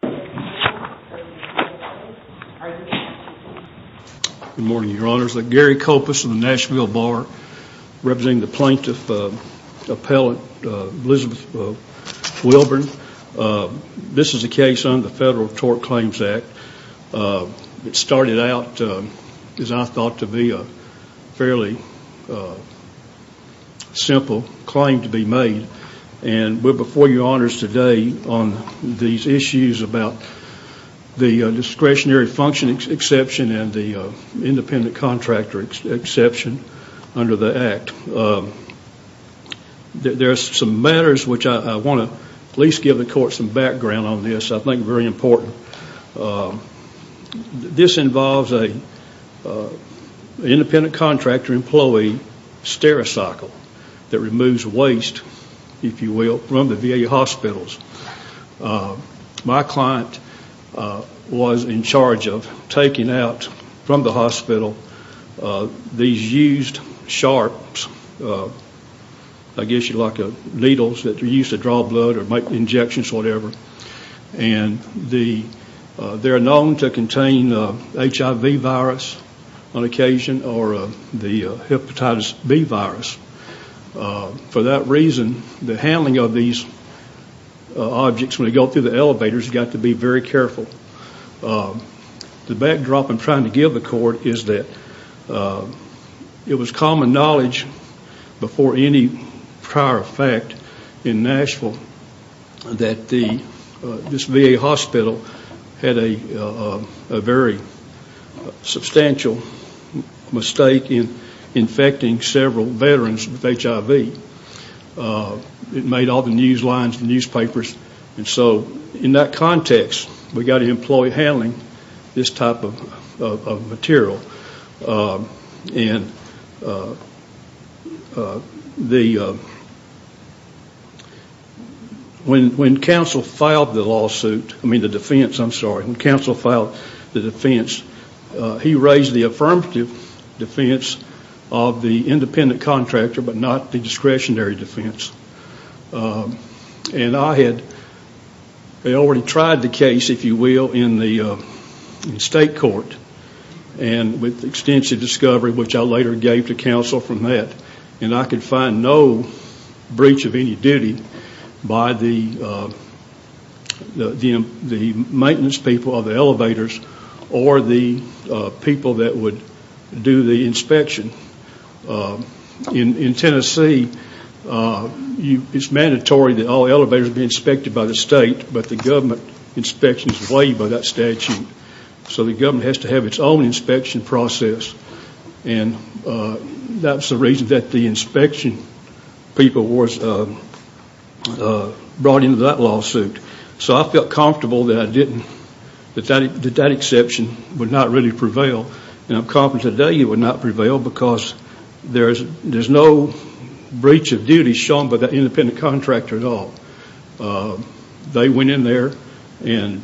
Good morning, Your Honors. Gary Kopus of the Nashville Bar, representing the Plaintiff Appellant Elizabeth Wilburn. This is a case under the Federal Tort Claims Act. It started out as I thought to be a fairly simple claim to be made, and we're before Your Honors today on these issues about the discretionary function exception and the independent contractor exception under the Act. There are some matters which I want to at least give the Court some background on this. I think it's very important. This involves an independent contractor employee stereocycle that removes waste, if you will, from the VA hospitals. My client was in charge of taking out from the hospital these used sharps, I guess you like needles that are used to draw blood or make injections or whatever, and they're known to contain HIV virus on them. For that reason, the handling of these objects when they go through the elevators got to be very careful. The backdrop I'm trying to give the Court is that it was common knowledge before any prior effect in Nashville that this VA hospital had a very substantial mistake in infecting several veterans with HIV. It made all the news lines and newspapers. So in that context, we've got to employ handling this type of material. When counsel filed the defense, he raised the affirmative defense of the independent contractor but not the discretionary defense. I had already tried the case, if you will, in the state court and with extensive discovery, which I later gave to counsel from that, and I could find no breach of any duty by the maintenance people of the elevators or the people that would do the inspection. In Tennessee, it's mandatory that all elevators be inspected by the state, but the government inspection is waived by that statute. So the government has to have its own inspection process, and that's the reason that the inspection people was brought into that lawsuit. So I felt comfortable that I didn't, that that exception would not really prevail, and I'm confident today it would not prevail because there's no breach of duty shown by that independent contractor at all. They went in there and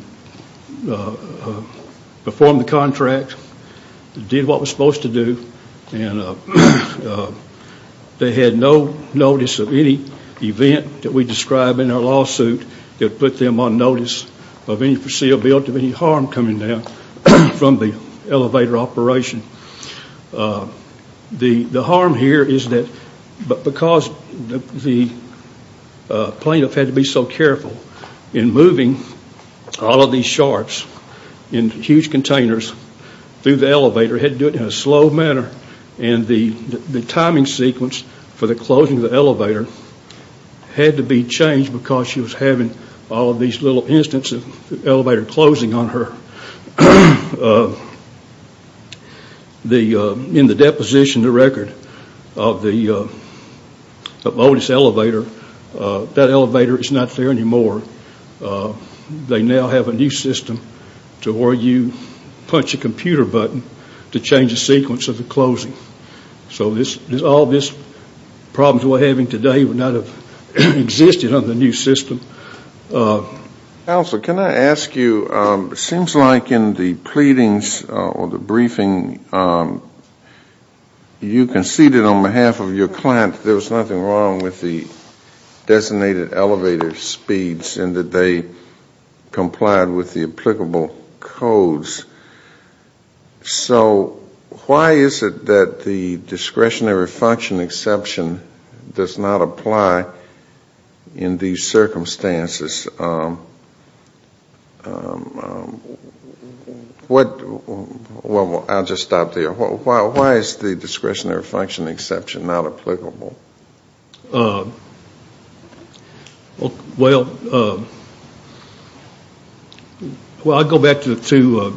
performed the contract, did what was supposed to do, and they had no notice of any event that we described in our lawsuit that put them on notice of any foreseeability of any harm coming down from the elevator operation. The harm here is that because the plaintiff had to be so careful in moving all of these sharps in huge containers through the elevator, had to do it in a slow manner, and the timing sequence for the closing of the elevator had to be changed. In the deposition, the record of the modus elevator, that elevator is not there anymore. They now have a new system to where you punch a computer button to change the sequence of the closing. So all these problems we're having today would not have existed under the new system. Counsel, can I ask you, it seems like in the pleadings or the briefing you conceded on behalf of your client that there was nothing wrong with the designated elevator speeds and that they complied with the applicable codes. So why is it that the discretionary function exception does not apply in these circumstances? I'll just stop there. Why is the discretionary function exception not applicable? Well, I go back to the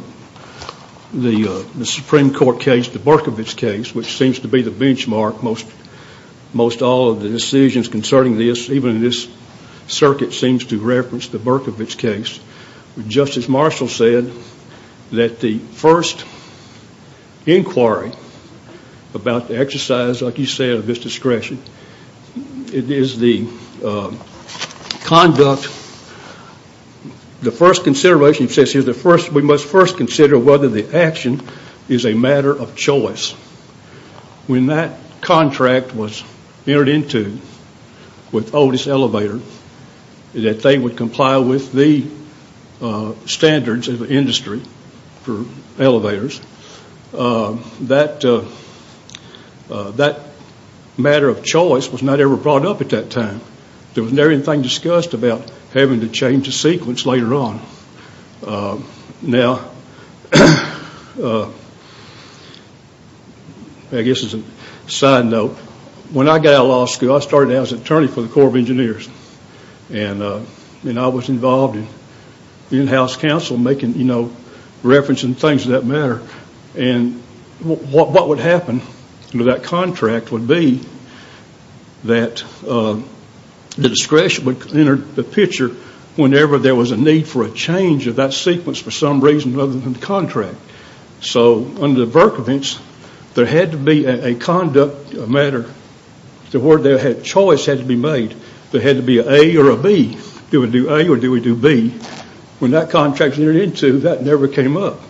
Supreme Court case, the Berkovich case, which seems to be the benchmark, most all of the decisions concerning this, even this circuit seems to reference the Berkovich case. Justice Marshall said that the first inquiry about the exercise, like you said, of this discretion, it is the conduct, the first consideration, he says we must first consider whether the action is a matter of choice. When that contract was entered into with Otis Elevator, that they would comply with the standards of the industry for elevators, that matter of choice was not ever brought up at that time. There Now, I guess as a side note, when I got out of law school, I started out as an attorney for the Corps of Engineers and I was involved in in-house counsel making, you know, referencing things of that matter. And what would happen to that contract would be that the discretion would enter the picture whenever there was a need for a change of that sequence for some reason other than the contract. So under the Berkovich, there had to be a conduct matter, the word choice had to be made. There had to be an A or a B. Do we do A or do we do B? When that contract was entered into, that never came up.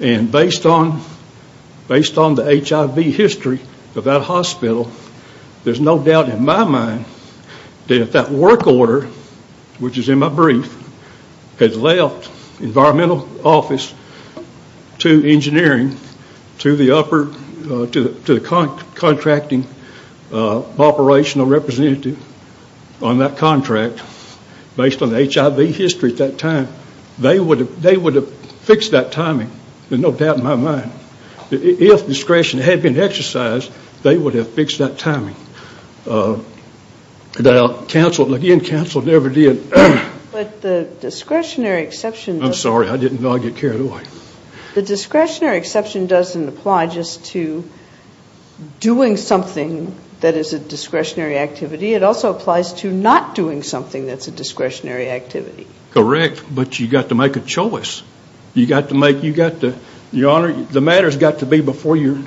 And based on the HIV history of that hospital, there's no doubt in my mind that if that work order, which is in my brief, had left environmental office to engineering to the contracting operational representative on that contract, based on the HIV history at that time, they would have fixed that timing. There's no doubt in my mind. If discretion had been exercised, they would have fixed that timing. The in-counsel never did. But the discretionary exception I'm sorry, I didn't know I'd get carried away. The discretionary exception doesn't apply just to doing something that is a discretionary activity. It also applies to not doing something that's a discretionary activity. Correct, but you've got to make a choice. You've got to make, you've got to, your honor, the matters got to be before you,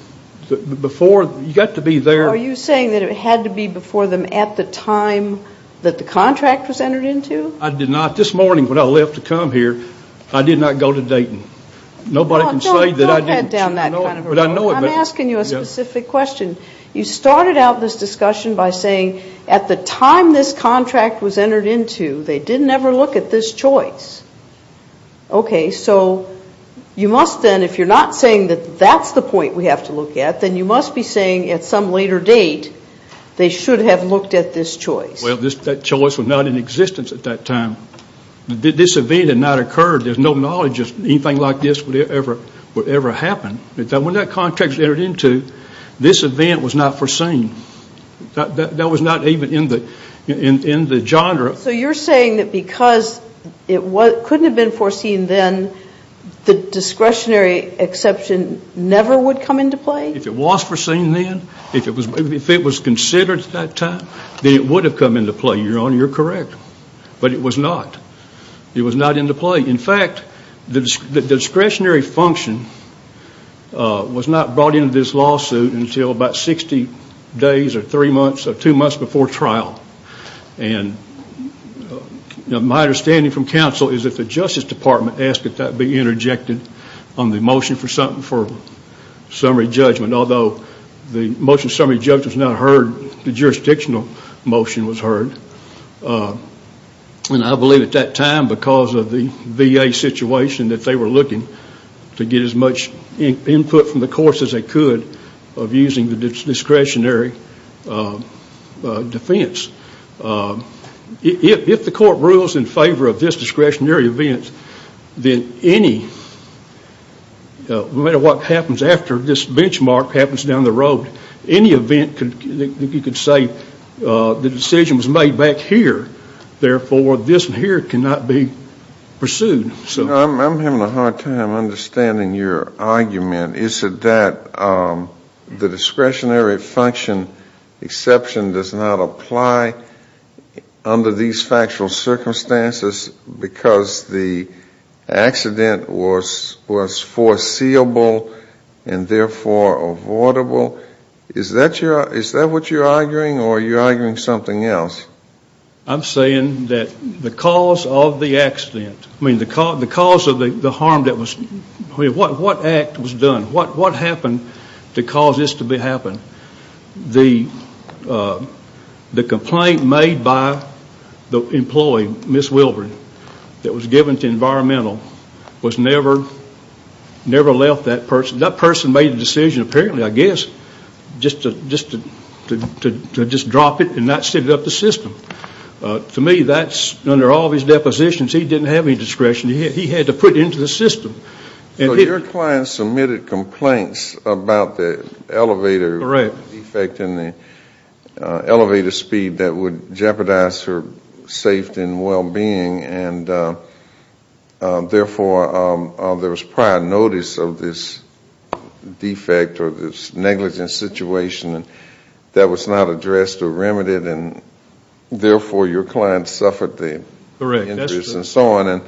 before, you've got to be there. Are you saying that it had to be before them at the time that the contract was entered into? I did not. This morning when I left to come here, I did not go to Dayton. Nobody can say that I didn't. Don't head down that kind of a road. But I know it. I'm asking you a specific question. You started out this discussion by saying at the time this contract was entered into, they didn't ever look at this choice. Okay, so you must then, if you're not saying that that's the point we have to look at, then you must be saying at some later date, they should have looked at this choice. Well, that choice was not in existence at that time. This event had not occurred. There's no knowledge that anything like this would ever happen. When that contract was entered into, this event was not foreseen. That was not even in the genre. So you're saying that because it couldn't have been foreseen then, the discretionary exception never would come into play? If it was foreseen then, if it was considered at that time, then it would have come into play, your honor, you're correct. But it was not. It was not into play. In fact, the discretionary exception was not brought into this lawsuit until about 60 days or three months or two months before trial. My understanding from counsel is that the Justice Department asked that that be interjected on the motion for summary judgment, although the motion of summary judgment was not heard, the jurisdictional motion was heard. I believe at that time, because of the VA situation, that they were looking to get as much input from the courts as they could of using the discretionary defense. If the court rules in favor of this discretionary event, then any, no matter what happens after this benchmark happens down the road, any decision was made back here. Therefore, this here cannot be pursued. I'm having a hard time understanding your argument. Is it that the discretionary function exception does not apply under these factual circumstances because the accident was foreseeable and therefore avoidable? Is that what you're arguing or are you arguing something else? I'm saying that the cause of the accident, I mean, the cause of the harm that was, what act was done? What happened to cause this to happen? The complaint made by the employee, Ms. Wilbur, that was given to environmental was never left that person. That person made the decision, apparently, I guess, just to drop it and not set it up the system. To me, that's, under all of his depositions, he didn't have any discretion. He had to put it into the system. Your client submitted complaints about the elevator defect and the elevator speed that would jeopardize her safety and well-being. Therefore, there was prior notice of this defect or this negligence situation that was not addressed or remedied. Therefore, your client suffered the injuries and so on.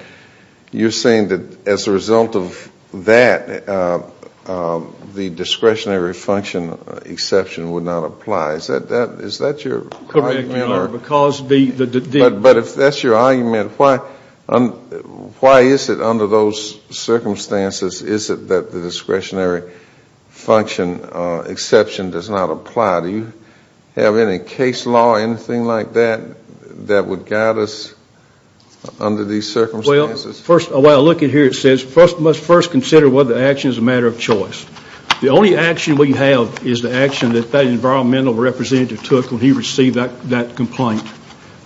You're saying that as a result of that, the discretionary function exception would not apply. Is that your argument? No, because the But if that's your argument, why is it under those circumstances is it that the discretionary function exception does not apply? Do you have any case law or anything like that that would guide us under these circumstances? Well, first, when I look at here, it says, first, we must first consider whether the action is a matter of choice. The only action we have is the action that that environmental representative took when he received that complaint.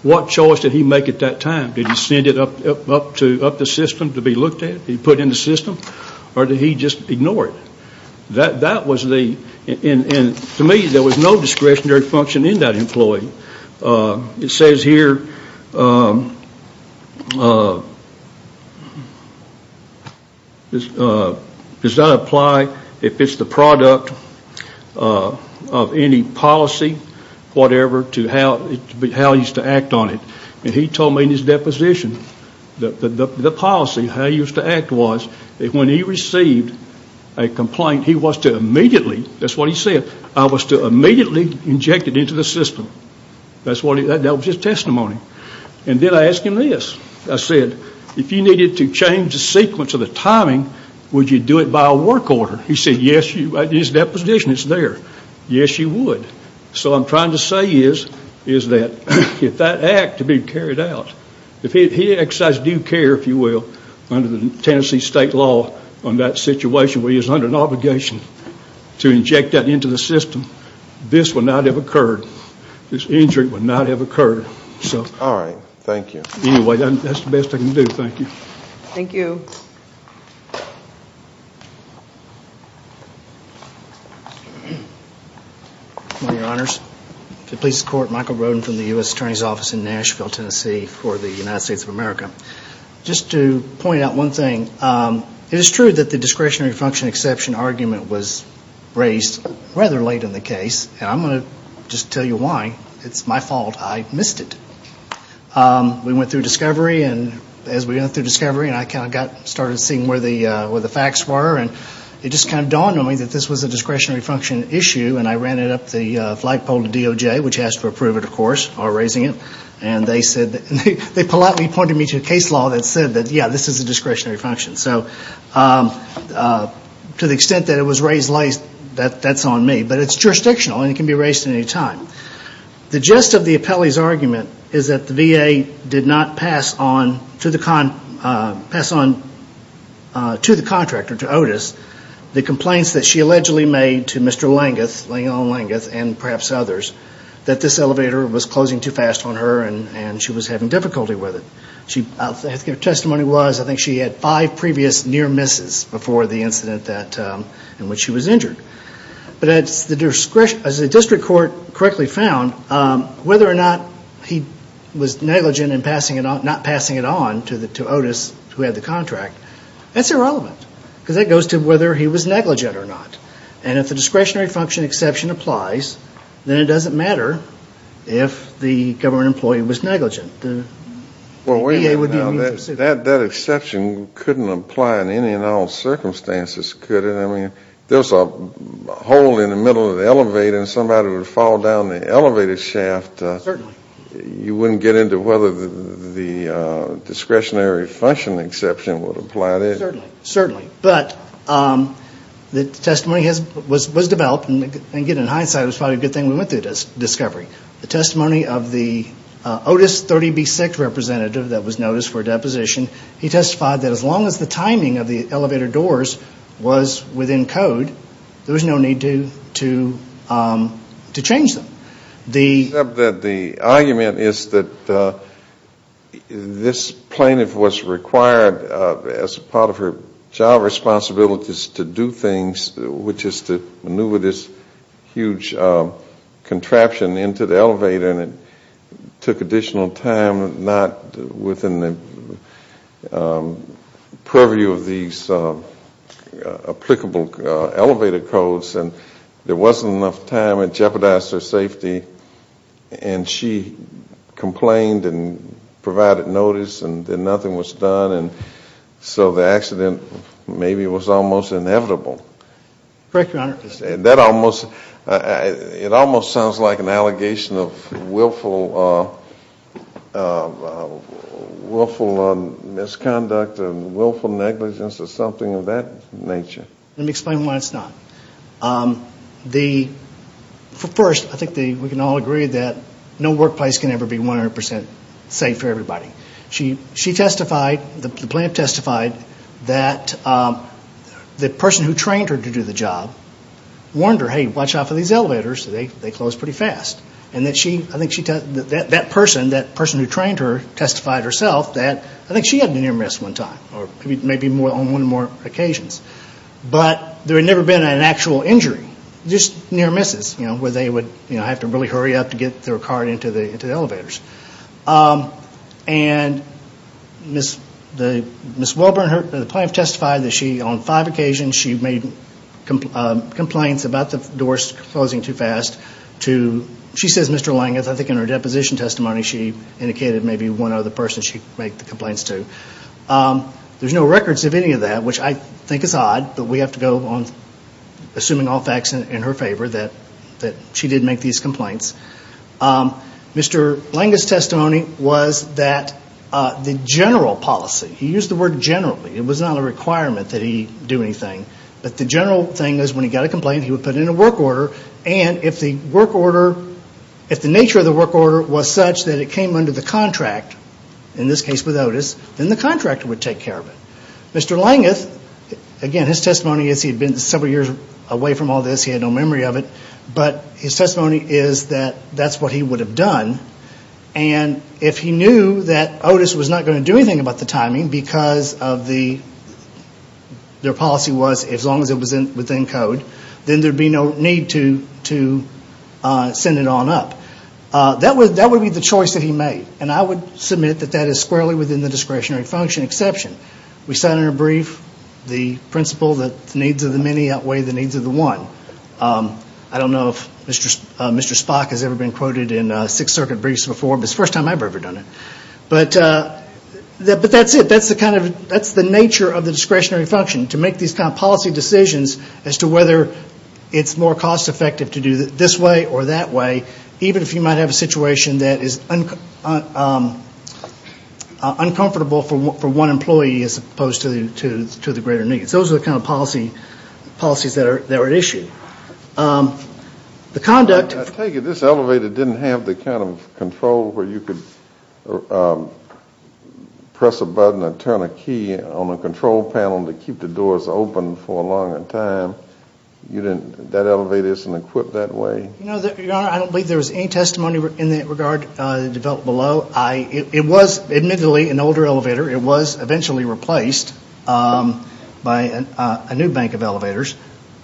What choice did he make at that time? Did he send it up to the system to be looked at? Did he put it in the system or did he just ignore it? That was the, and to me, there was no discretionary function in that employee. It says here, does that apply if it's the product of any policy, whatever, to how he used to act on it. He told me in his deposition that the policy, how he used to act was that when he received a complaint, he was to immediately, that's what he said, I was to immediately inject it into the system. That was his testimony. And then I asked him this. I said, if you needed to change the sequence of the timing, would you do it by a work order? He said, yes, you, in his deposition, it's there. Yes, you would. So what I'm trying to say is that if that act to be carried out, if he exercised due care, if you will, under the Tennessee state law on that situation where he is under an obligation to inject that into the system, this would not have occurred. This injury would not have occurred. All right. Thank you. Anyway, that's the best I can do. Thank you. Thank you. Good morning, Your Honors. The police court, Michael Roden from the U.S. Attorney's Office in Nashville, Tennessee for the United States of America. Just to point out one thing, it is true that the discretionary function exception argument was raised rather late in the case, and I'm going to just tell you why. It's my fault. I missed it. We went through discovery, and as we went through discovery, I kind of started seeing where the facts were, and it just kind of dawned on me that this was a discretionary function issue, and I ran it up the flagpole to DOJ, which asked for approval, of course, for raising it, and they said, they politely pointed me to a case law that said that, yeah, this is a discretionary function. So to the extent that it was raised late, that's on me, but it's jurisdictional, and it can be raised at any time. The gist of the appellee's argument is that the VA did not pass on to the contractor, to Otis, the complaints that she allegedly made to Mr. Langeth, Leon Langeth, and perhaps others, that this elevator was closing too fast on her, and she was having difficulty with it. Her testimony was, I think she had five previous near misses before the incident in which she was injured. But as the district court correctly found, whether or not he was negligent in not passing it on to Otis, who had the contract, that's irrelevant, because that goes to whether he was negligent or not, and if the discretionary function exception applies, then it doesn't matter if the government employee was negligent. Well, that exception couldn't apply in any and all circumstances, could it? I mean, there's a hole in the middle of the elevator, and somebody would fall down the elevator shaft. You wouldn't get into whether the discretionary function exception would apply there. Certainly. But the testimony was developed, and in hindsight, it was probably a good thing we went through the discovery. The testimony of the Otis 30B6 representative that was noticed for a deposition, he testified that as long as the timing of the elevator doors was within code, there was no need to change them. The argument is that this plaintiff was required as part of her job responsibilities to do contraption into the elevator, and it took additional time, not within the purview of these applicable elevator codes, and there wasn't enough time, it jeopardized her safety, and she complained and provided notice, and then nothing was done, and so the accident maybe was almost inevitable. Correct, Your Honor. It almost sounds like an allegation of willful misconduct and willful negligence or something of that nature. Let me explain why it's not. First, I think we can all agree that no workplace can ever be 100% safe for everybody. The plaintiff testified that the person who trained her to do the job warned her, hey, watch out for these elevators, they close pretty fast, and that person who trained her testified herself that I think she had been near miss one time, or maybe on one or more occasions, but there had never been an actual injury, just near misses where they would have to really hurry up to get their cart into the elevators, and Ms. Welburn, the plaintiff testified that on five occasions she made complaints about the doors closing too fast. She says, Mr. Langis, I think in her deposition testimony she indicated maybe one other person she made the complaints to. There's no records of any of that, which I think is odd, but we have to go on assuming all facts in her favor that she did make these complaints. Mr. Langis' testimony was that the general policy, he used the word generally, it was not a requirement that he do anything, but the general thing is when he got a complaint he would put in a work order, and if the work order, if the nature of the work order was such that it came under the contract, in this case with Otis, then the contractor would take care of it. Mr. Langis, again his testimony is he had been several years away from all this, he had no memory of it, but his testimony is that that's what he would have done, and if he knew that Otis was not going to do anything about the timing because of the, their policy was as long as it was within code, then there would be no need to send it on up. That would be the choice that he made, and I would submit that that is squarely within the discretionary function exception. We sat in a brief, the principle that the needs of the many outweigh the needs of the one. I don't know if Mr. Spock has ever been quoted in Sixth Circuit briefs before, but it's the first time I've ever done it. But that's it, that's the kind of, that's the nature of the discretionary function, to make these kind of policy decisions as to whether it's more cost effective to do it this way or that way, even if you might have a situation that is uncomfortable for one employee as opposed to the greater needs. Those are the kind of policies that were issued. I take it this elevator didn't have the kind of control where you could press a button and turn a key on a control panel to keep the doors open for a longer time. You didn't, that elevator isn't equipped that way? You know, Your Honor, I don't believe there was any testimony in that regard developed below. It was admittedly an older elevator. It was eventually replaced by a new bank of dollars.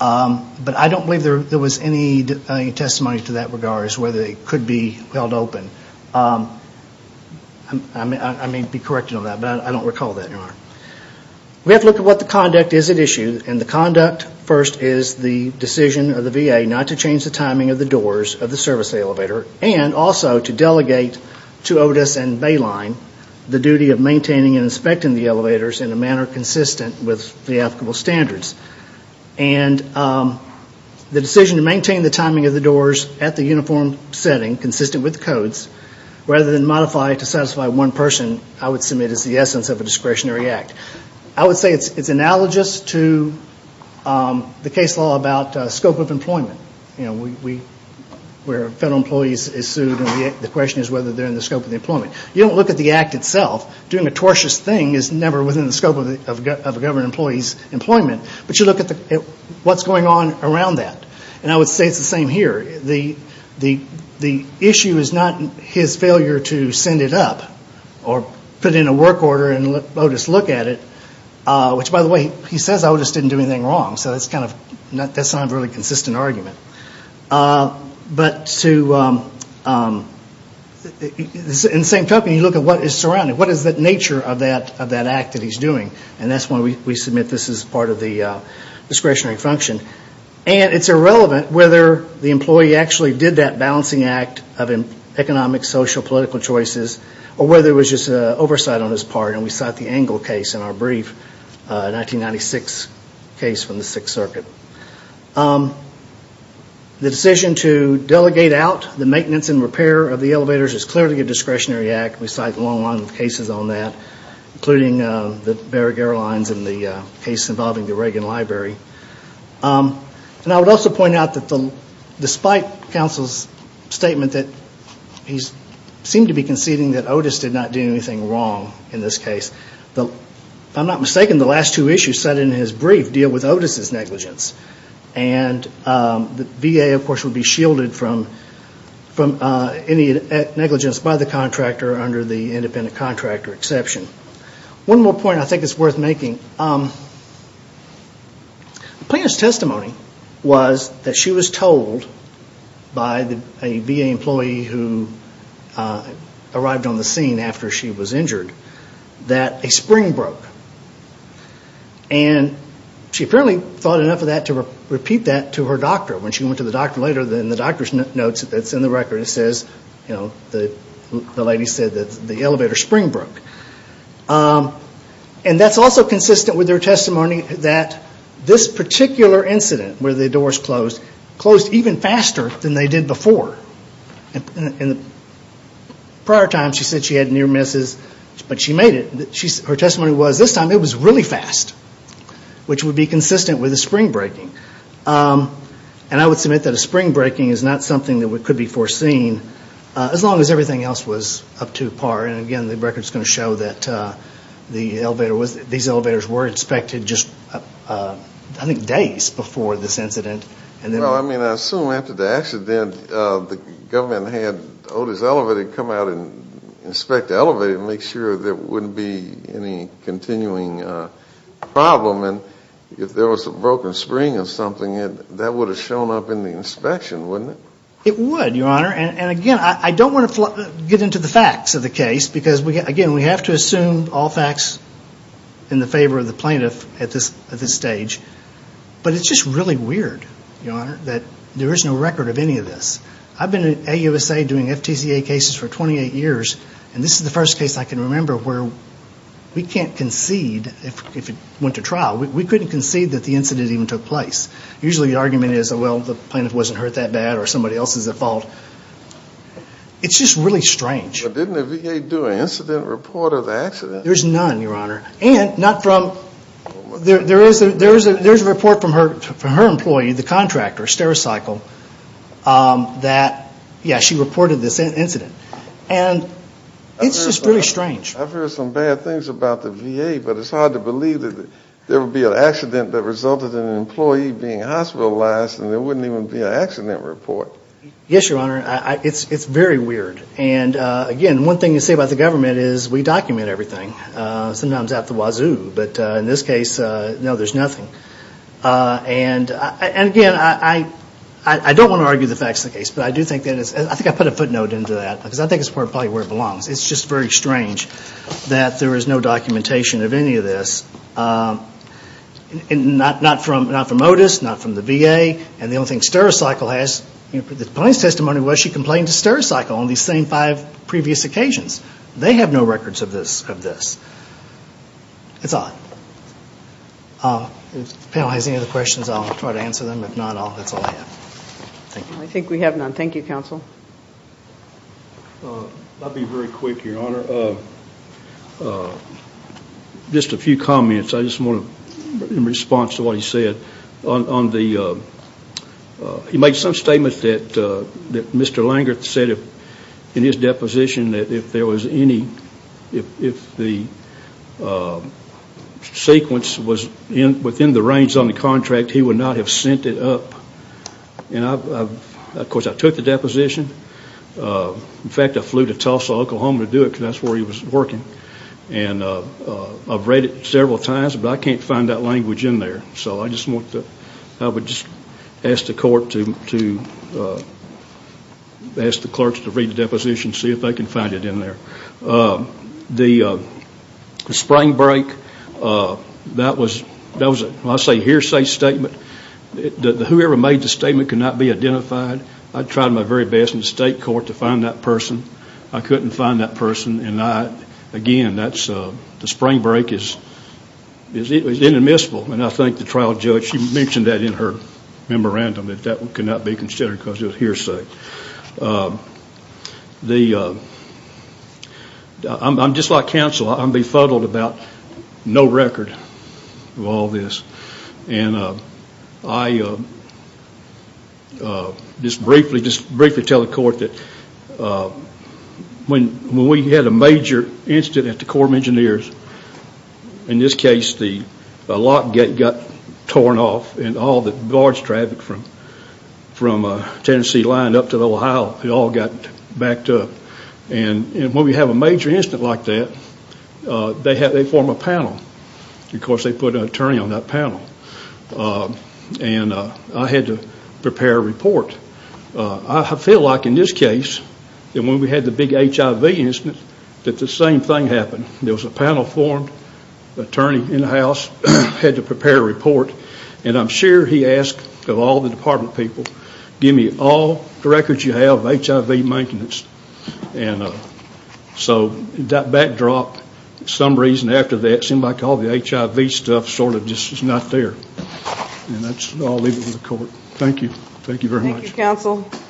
I don't believe there was any testimony to that regard as to whether it could be held open. I may be corrected on that, but I don't recall that, Your Honor. We have to look at what the conduct is at issue, and the conduct first is the decision of the VA not to change the timing of the doors of the service elevator and also to delegate to Otis and Bayline the duty of maintaining and inspecting the elevators in a manner consistent with the applicable standards. And the decision to maintain the timing of the doors at the uniform setting, consistent with the codes, rather than modify to satisfy one person, I would submit is the essence of a discretionary act. I would say it's analogous to the case law about scope of employment, where federal employees are sued and the question is whether they are in the scope of employment. You don't look at the act itself. Doing a tortious thing is never within the scope of a government employee's employment, but you look at what's going on around that. I would say it's the same here. The issue is not his failure to send it up or put in a work order and let Otis look at it, which by the way, he says Otis didn't do anything wrong, so that's not a really consistent argument. But in the same token, you look at what is surrounding, what is the nature of that act that he's doing. And that's why we submit this as part of the discretionary function. And it's irrelevant whether the employee actually did that balancing act of economic, social, political choices or whether it was just oversight on his part and we cite the Engle case in our brief, a 1996 case from the Sixth Circuit. The decision to delegate out the maintenance and repair of the elevators is clearly a discretionary act. We cite a long line of cases on that, including the Berrig Airlines and the case involving the Reagan Library. And I would also point out that despite counsel's statement that he seemed to be conceding that I'm not mistaken the last two issues cited in his brief deal with Otis' negligence. And the VA of course would be shielded from any negligence by the contractor under the independent contractor exception. One more point I think is worth making. The plaintiff's testimony was that she was told by a VA employee who arrived on the scene after she was injured that a spring broke and she apparently thought enough of that to repeat that to her doctor. When she went to the doctor later, the doctor notes that it's in the record, it says, the lady said that the elevator spring broke. And that's also consistent with her testimony that this particular incident where the doors closed, closed even faster than they did before. In prior times she said she had near misses but she made it. Her testimony was this time it was really fast, which would be consistent with a spring breaking. And I would submit that a spring breaking is not something that could be foreseen as long as everything else was up to par and again the record is going to show that these elevators were inspected just I think days before this incident. Well, I mean I assume after the accident the government had Otis Elevator come out and inspect the elevator to make sure there wouldn't be any continuing problem and if there was a broken spring or something that would have shown up in the inspection, wouldn't it? It would, Your Honor. And again, I don't want to get into the facts of the case because again we have to assume all facts in the favor of the plaintiff at this stage. But it's just really weird, Your Honor, that there is no record of any of this. I've been at AUSA doing FTCA cases for 28 years and this is the first case I can remember where we can't concede if it went to trial. We couldn't concede that the incident even took place. Usually the argument is, well, the plaintiff wasn't hurt that bad or somebody else is at fault. It's just really strange. But didn't the VA do an incident report of the accident? There's none, Your Honor. And there is a report from her employee, the contractor, Stericycle, that she reported this incident. And it's just really strange. I've heard some bad things about the VA, but it's hard to believe that there would be an accident that resulted in an employee being hospitalized and there wouldn't even be an accident report. Yes, Your Honor, it's very weird. And again, one thing to say about the government is we document everything. Sometimes out the wazoo. But in this case, no, there's nothing. And again, I don't want to argue the fact of the case, but I do think that it's, I think I put a footnote into that because I think it's probably where it belongs. It's just very strange that there is no documentation of any of this, not from Otis, not from the VA. And the only thing Stericycle has, the plaintiff's testimony was she complained to Stericycle on these same five previous occasions. They have no records of this. It's odd. If the panel has any other questions, I'll try to answer them. If not, that's all I have. Thank you. I think we have none. Thank you, counsel. I'll be very quick, Your Honor. Just a few comments. I just want to, in response to what he said, on the, he made some statement that Mr. Langerth said in his deposition that if there was any, if the sequence was within the range on the contract, he would not have sent it up. And of course, I took the deposition. In fact, I flew to Tulsa, Oklahoma to do it because that's where he was working. And I've read it several times, but I can't find that language in there. So I just want to, I would just ask the court to, ask the clerks to read the deposition, see if they can find it in there. The spring break, that was, that was a hearsay statement. Whoever made the statement could not be identified. I tried my very best in the state court to find that person. I couldn't find that person. And I, again, that's, the spring break is, it was inadmissible. And I think the trial judge, she mentioned that in her memorandum, that that could not be considered because it was hearsay. The, I'm just like counsel, I'm befuddled about no record of all this. And I just briefly, just briefly tell the court that when we had a major incident at the Corps of Engineers, in this case, the lock gate got torn off and all the guards traveling from Tennessee lined up to the Ohio, it all got backed up. And when we have a major incident like that, they have, they form a panel because they put an attorney on that panel. And I had to prepare a report. But I feel like in this case, that when we had the big HIV incident, that the same thing happened. There was a panel formed, attorney in the house, had to prepare a report. And I'm sure he asked of all the department people, give me all the records you have of HIV maintenance. And so that backdrop, some reason after that, it seemed like all the HIV stuff sort of just was not there. And that's, I'll leave it with the court. Thank you. Thank you very much.